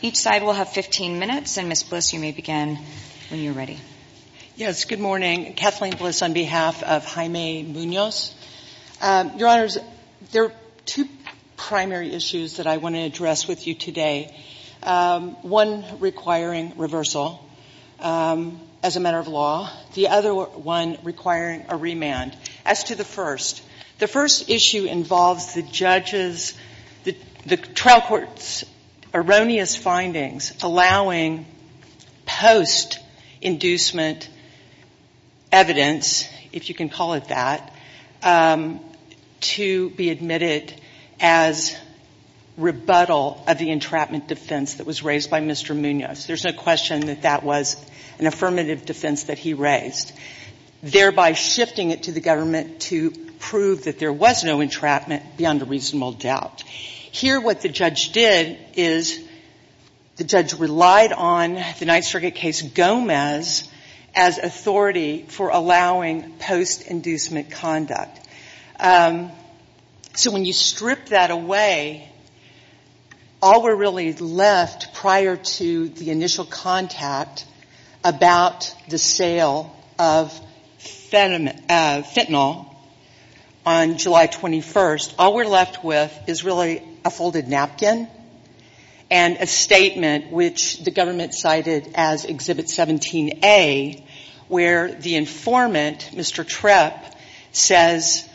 Each side will have 15 minutes, and Ms. Bliss, you may begin when you're ready. Yes, good morning. Kathleen Bliss on behalf of Jaime Munoz. Your Honors, there are two primary issues that I want to address with you today, one requiring reversal as a matter of law, the other one requiring a remand. As to the first, the first issue involves the trial court's erroneous findings allowing post-inducement evidence, if you can call it that, to be admitted as rebuttal of the entrapment defense that was raised by Mr. Munoz. There's no question that that was an affirmative defense that he raised, thereby shifting it to the government to prove that there was no entrapment beyond a reasonable doubt. Here what the judge did is the judge relied on the Ninth Circuit case Gomez as authority for allowing post-inducement conduct. So when you strip that away, all we're really left prior to the initial contact about the sale of fentanyl on July 21st, all we're left with is really a folded napkin and a statement which the government cited as Exhibit 17A, where the informant, Mr. Trepp, says,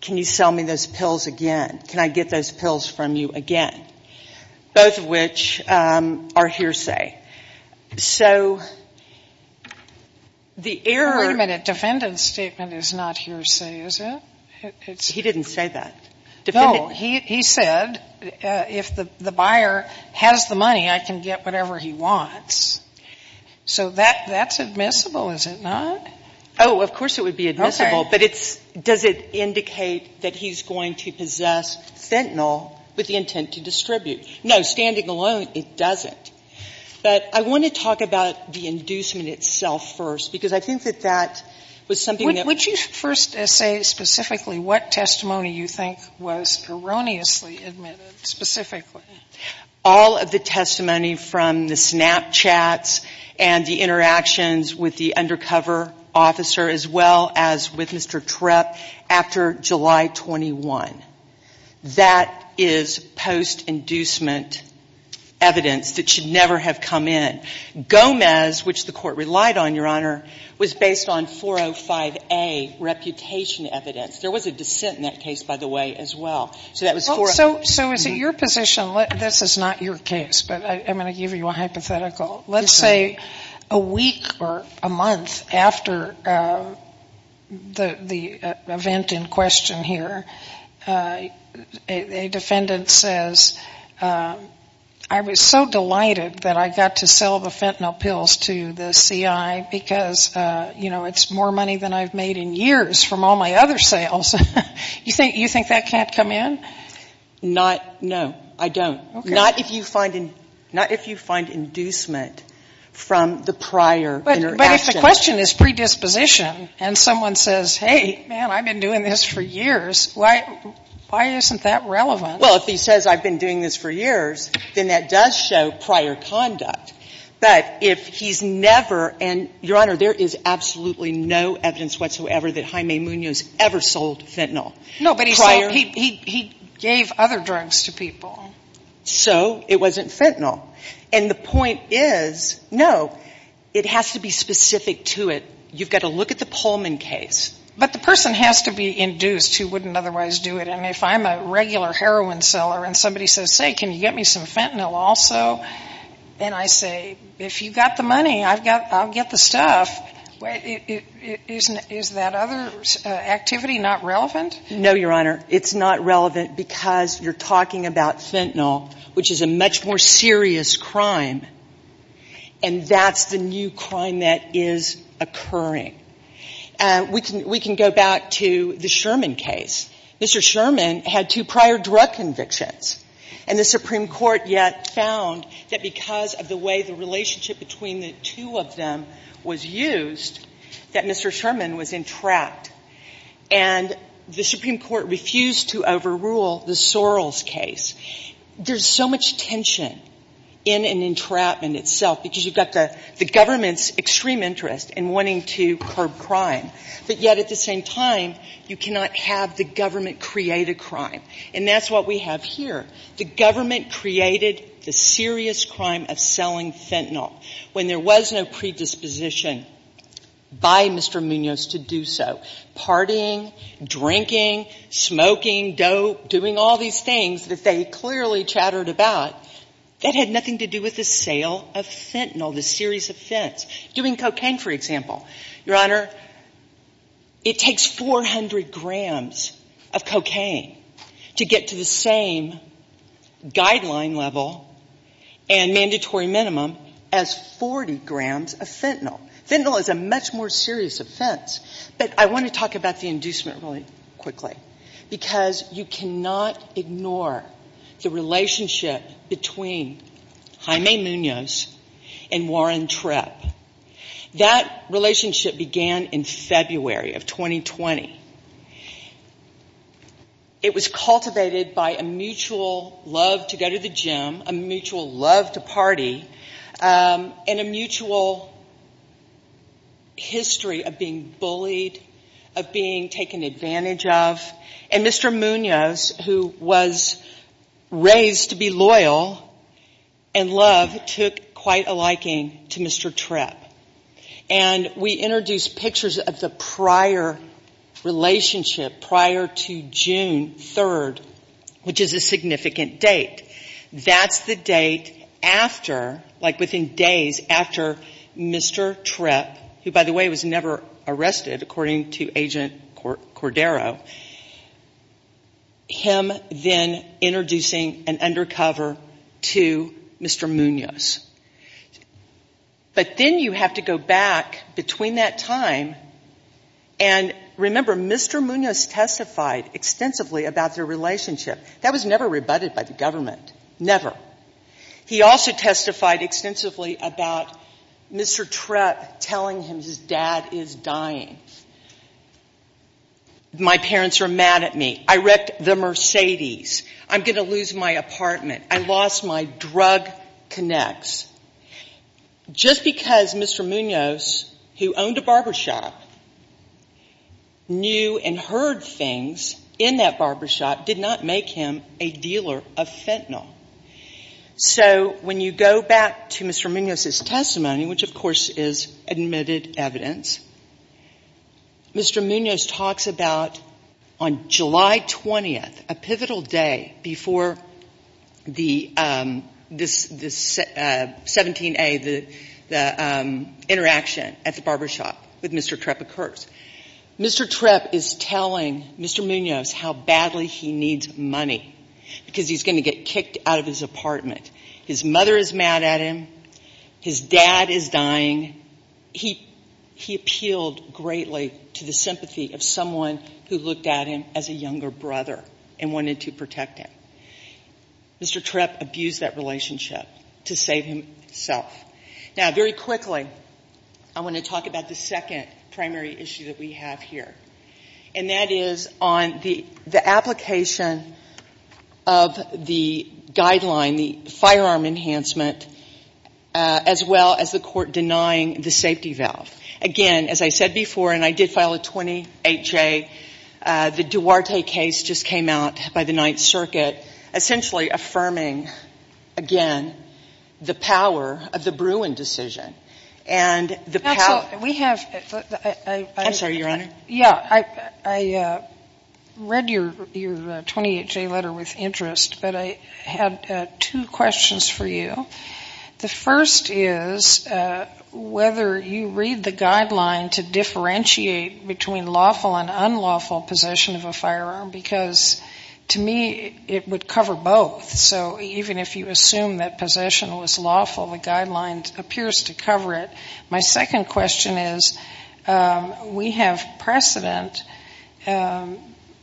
can you sell me those pills again? Can I get those pills from you again? Both of which are hearsay. So the error of the defendant's statement is not hearsay, is it? He didn't say that. No, he said if the buyer has the money, I can get whatever he wants. So that's admissible, is it not? Oh, of course it would be admissible. Okay. But does it indicate that he's going to possess fentanyl with the intent to distribute? No. Standing alone, it doesn't. But I want to talk about the inducement itself first, because I think that that was something that was. Would you first say specifically what testimony you think was erroneously admitted specifically? All of the testimony from the Snapchats and the interactions with the undercover officer as well as with Mr. Trepp after July 21. That is post-inducement evidence that should never have come in. Gomez, which the Court relied on, Your Honor, was based on 405A reputation evidence. There was a dissent in that case, by the way, as well. So is it your position? This is not your case, but I'm going to give you a hypothetical. Let's say a week or a month after the event in question here, a defendant says, I was so delighted that I got to sell the fentanyl pills to the CI because, you know, it's more money than I've made in years from all my other sales. You think that can't come in? Not no. I don't. Not if you find inducement from the prior interaction. But if the question is predisposition and someone says, hey, man, I've been doing this for years, why isn't that relevant? Well, if he says I've been doing this for years, then that does show prior conduct. But if he's never, and Your Honor, there is absolutely no evidence whatsoever that Jaime Munoz ever sold fentanyl prior. No, but he gave other drugs to people. So it wasn't fentanyl. And the point is, no, it has to be specific to it. You've got to look at the Pullman case. But the person has to be induced who wouldn't otherwise do it. I mean, if I'm a regular heroin seller and somebody says, hey, can you get me some fentanyl also? And I say, if you've got the money, I'll get the stuff. Is that other activity not relevant? No, Your Honor. It's not relevant because you're talking about fentanyl, which is a much more serious crime. And that's the new crime that is occurring. We can go back to the Sherman case. Mr. Sherman had two prior drug convictions. And the Supreme Court yet found that because of the way the relationship between the two of them was used, that Mr. Sherman was entrapped. And the Supreme Court refused to overrule the Sorrells case. There's so much tension in an entrapment itself because you've got the government's extreme interest in wanting to curb crime. But yet at the same time, you cannot have the government create a crime. And that's what we have here. The government created the serious crime of selling fentanyl. When there was no predisposition by Mr. Munoz to do so, partying, drinking, smoking, dope, doing all these things that they clearly chattered about, that had nothing to do with the sale of fentanyl, the series of fents. Doing cocaine, for example. Your Honor, it takes 400 grams of cocaine to get to the same guideline level and mandatory minimum as 40 grams of fentanyl. Fentanyl is a much more serious offense. But I want to talk about the inducement really quickly because you cannot ignore the relationship between Jaime Munoz and Warren Tripp. That relationship began in February of 2020. It was cultivated by a mutual love to go to the gym, a mutual love to party, and a mutual history of being bullied, of being taken advantage of. And Mr. Munoz, who was raised to be loyal and love, took quite a liking to Mr. Tripp. And we introduced pictures of the prior relationship, prior to June 3rd, which is a significant date. That's the date after, like within days after Mr. Tripp, who, by the way, was never arrested, according to Agent Cordero, him then introducing an undercover to Mr. Munoz. But then you have to go back between that time, and remember, Mr. Munoz testified extensively about their relationship. That was never rebutted by the government, never. He also testified extensively about Mr. Tripp telling him his dad is dying. My parents are mad at me. I wrecked the Mercedes. I'm going to lose my apartment. I lost my drug connects. Just because Mr. Munoz, who owned a barbershop, knew and heard things in that barbershop, did not make him a dealer of fentanyl. So when you go back to Mr. Munoz's testimony, which, of course, is admitted evidence, Mr. Munoz talks about on July 20th, a pivotal day before the 17A, the interaction at the barbershop with Mr. Tripp occurs. Mr. Tripp is telling Mr. Munoz how badly he needs money because he's going to get kicked out of his apartment. His mother is mad at him. His dad is dying. He appealed greatly to the sympathy of someone who looked at him as a younger brother and wanted to protect him. Mr. Tripp abused that relationship to save himself. Now, very quickly, I want to talk about the second primary issue that we have here, and that is on the application of the guideline, the firearm enhancement, as well as the court denying the safety valve. Again, as I said before, and I did file a 28-J, the Duarte case just came out by the Ninth Circuit, essentially affirming, again, the power of the Bruin decision. I'm sorry, Your Honor. Yeah, I read your 28-J letter with interest, but I had two questions for you. The first is whether you read the guideline to differentiate between lawful and unlawful possession of a firearm, because to me it would cover both. So even if you assume that possession was lawful, the guideline appears to cover it. My second question is we have precedent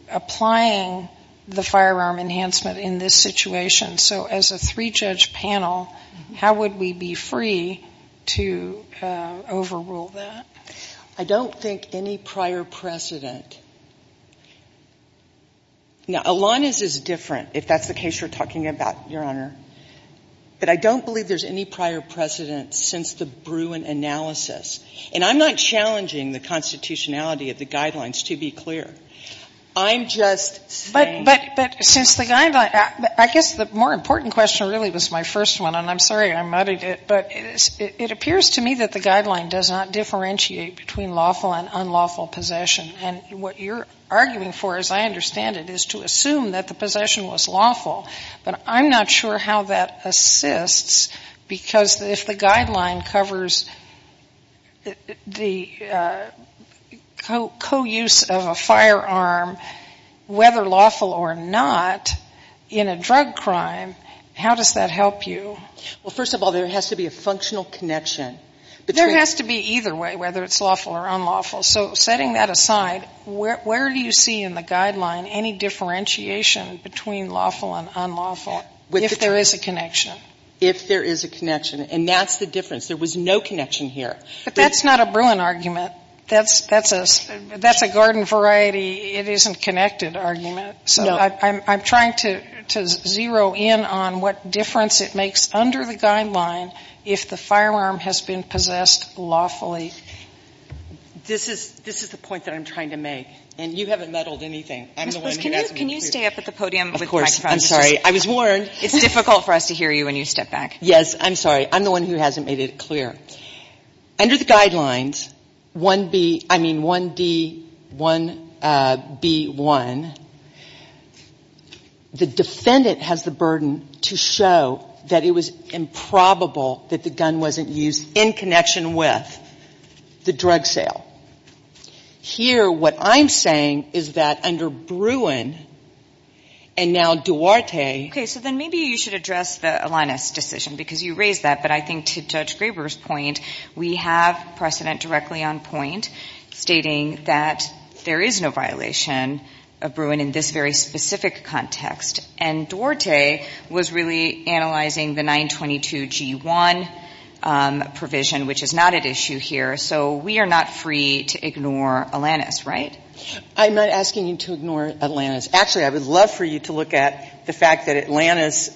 applying the firearm enhancement in this situation. So as a three-judge panel, how would we be free to overrule that? I don't think any prior precedent. Now, Elaniz is different, if that's the case you're talking about, Your Honor. But I don't believe there's any prior precedent since the Bruin analysis. And I'm not challenging the constitutionality of the guidelines, to be clear. I'm just saying that since the guideline – But since the guideline – I guess the more important question really was my first one, and I'm sorry I muddied it. But it appears to me that the guideline does not differentiate between lawful and unlawful possession. And what you're arguing for, as I understand it, is to assume that the possession was lawful. But I'm not sure how that assists, because if the guideline covers the co-use of a firearm, whether lawful or not, in a drug crime, how does that help you? Well, first of all, there has to be a functional connection. There has to be either way, whether it's lawful or unlawful. So setting that aside, where do you see in the guideline any differentiation between lawful and unlawful, if there is a connection? If there is a connection. And that's the difference. There was no connection here. But that's not a Bruin argument. That's a garden variety, it isn't connected argument. So I'm trying to zero in on what difference it makes under the guideline if the firearm has been possessed lawfully. This is the point that I'm trying to make. And you haven't meddled anything. I'm the one who hasn't made it clear. Ms. Bush, can you stay up at the podium with the microphone? Of course. I'm sorry. I was warned. It's difficult for us to hear you when you step back. Yes, I'm sorry. I'm the one who hasn't made it clear. Under the guidelines, 1B, I mean 1D, 1B1, the defendant has the burden to show that it was improbable that the gun wasn't used in connection with the drug sale. Here, what I'm saying is that under Bruin and now Duarte. Okay. So then maybe you should address the Alanis decision because you raised that. But I think to Judge Graber's point, we have precedent directly on point stating that there is no violation of Bruin in this very specific context. And Duarte was really analyzing the 922G1 provision, which is not at issue here. So we are not free to ignore Alanis, right? I'm not asking you to ignore Alanis. Actually, I would love for you to look at the fact that Alanis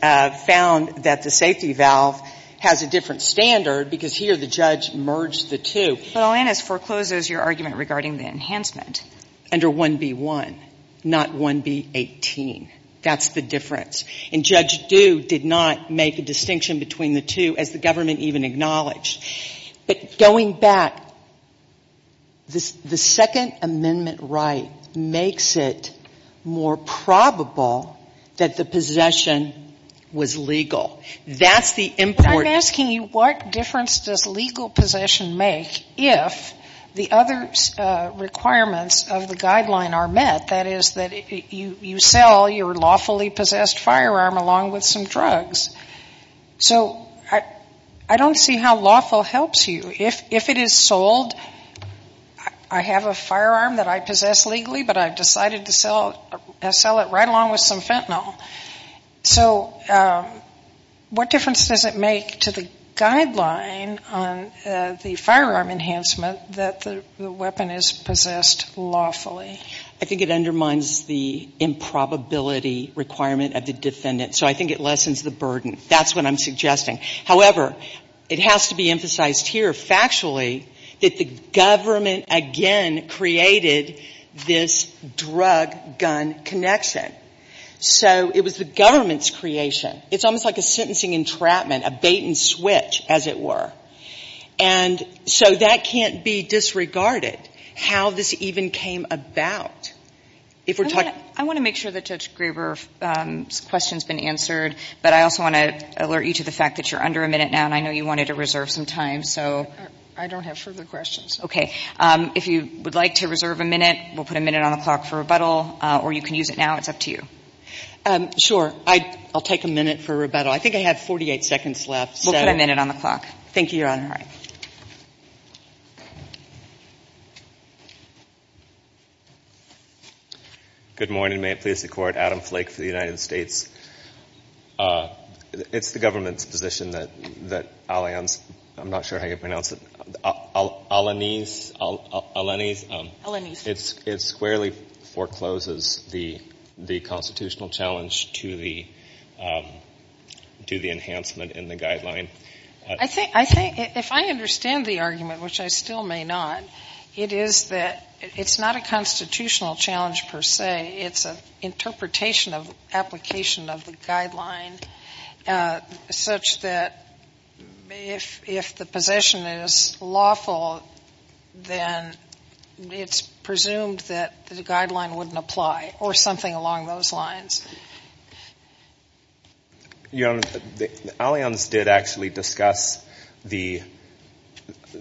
found that the safety valve has a different standard because here the judge merged the two. But Alanis forecloses your argument regarding the enhancement. Under 1B1, not 1B18. That's the difference. And Judge Due did not make a distinction between the two, as the government even acknowledged. But going back, the Second Amendment right makes it more probable that the possession was legal. That's the important thing. But I'm asking you what difference does legal possession make if the other requirements of the guideline are met? That is that you sell your lawfully possessed firearm along with some drugs. So I don't see how lawful helps you. If it is sold, I have a firearm that I possess legally, but I've decided to sell it right along with some fentanyl. So what difference does it make to the guideline on the firearm enhancement that the weapon is possessed lawfully? I think it undermines the improbability requirement of the defendant. So I think it lessens the burden. That's what I'm suggesting. However, it has to be emphasized here factually that the government again created this drug-gun connection. So it was the government's creation. It's almost like a sentencing entrapment, a bait-and-switch, as it were. And so that can't be disregarded, how this even came about. I want to make sure that Judge Graber's question has been answered, but I also want to alert you to the fact that you're under a minute now, and I know you wanted to reserve some time. I don't have further questions. Okay. If you would like to reserve a minute, we'll put a minute on the clock for rebuttal, or you can use it now. It's up to you. Sure. I'll take a minute for rebuttal. I think I have 48 seconds left. We'll put a minute on the clock. Thank you, Your Honor. All right. Good morning. May it please the Court. Adam Flake for the United States. It's the government's position that Allianz, I'm not sure how you pronounce it, Allianz, it squarely forecloses the constitutional challenge to the enhancement in the guideline. I think if I understand the argument, which I still may not, it is that it's not a constitutional challenge per se. It's an interpretation of application of the guideline such that if the possession is lawful, then it's presumed that the guideline wouldn't apply or something along those lines. Your Honor, Allianz did actually discuss the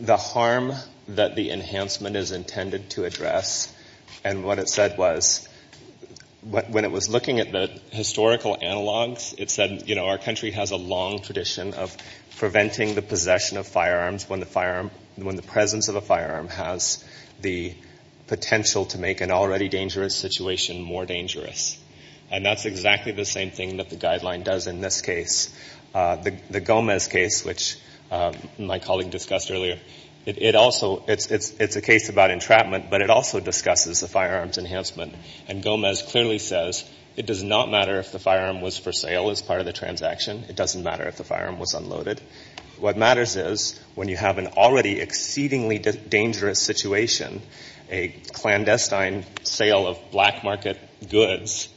harm that the enhancement is intended to address, and what it said was, when it was looking at the historical analogs, it said, you know, our country has a long tradition of preventing the possession of firearms when the presence of a firearm has the potential to make an already dangerous situation more dangerous. And that's exactly the same thing that the guideline does in this case. The Gomez case, which my colleague discussed earlier, it also, it's a case about entrapment, but it also discusses the firearms enhancement. And Gomez clearly says it does not matter if the firearm was for sale as part of the transaction. It doesn't matter if the firearm was unloaded. What matters is when you have an already exceedingly dangerous situation, a clandestine sale of black market goods,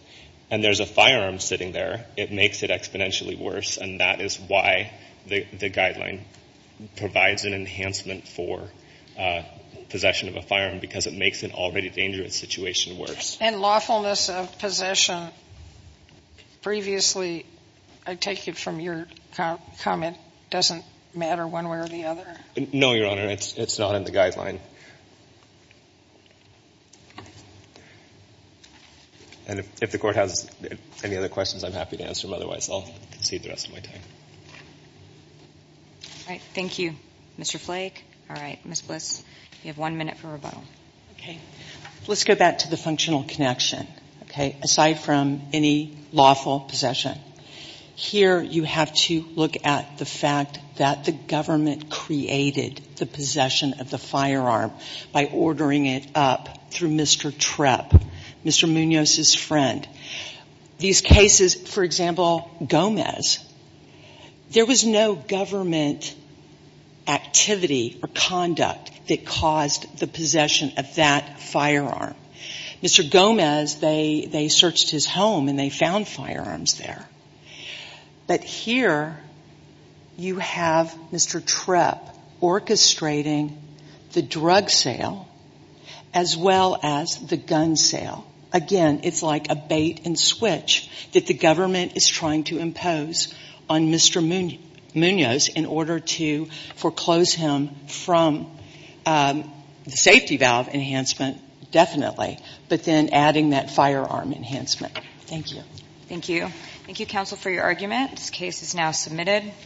and there's a firearm sitting there, it makes it exponentially worse, and that is why the guideline provides an enhancement for possession of a firearm, because it makes an already dangerous situation worse. And lawfulness of possession previously, I take it from your comment, doesn't matter one way or the other? No, Your Honor. It's not in the guideline. And if the Court has any other questions, I'm happy to answer them. Otherwise, I'll concede the rest of my time. All right. Thank you, Mr. Flake. All right. Ms. Bliss, you have one minute for rebuttal. Okay. Let's go back to the functional connection, okay, aside from any lawful possession. Here you have to look at the fact that the government created the possession of the firearm by ordering it up through Mr. Trepp, Mr. Munoz's friend. These cases, for example, Gomez, there was no government activity or conduct that caused the possession of that firearm. Mr. Gomez, they searched his home and they found firearms there. But here you have Mr. Trepp orchestrating the drug sale as well as the gun sale. Again, it's like a bait and switch that the government is trying to impose on Mr. Munoz in order to foreclose him from the safety valve enhancement, definitely, but then adding that firearm enhancement. Thank you. Thank you. Thank you, counsel, for your argument. This case is now submitted.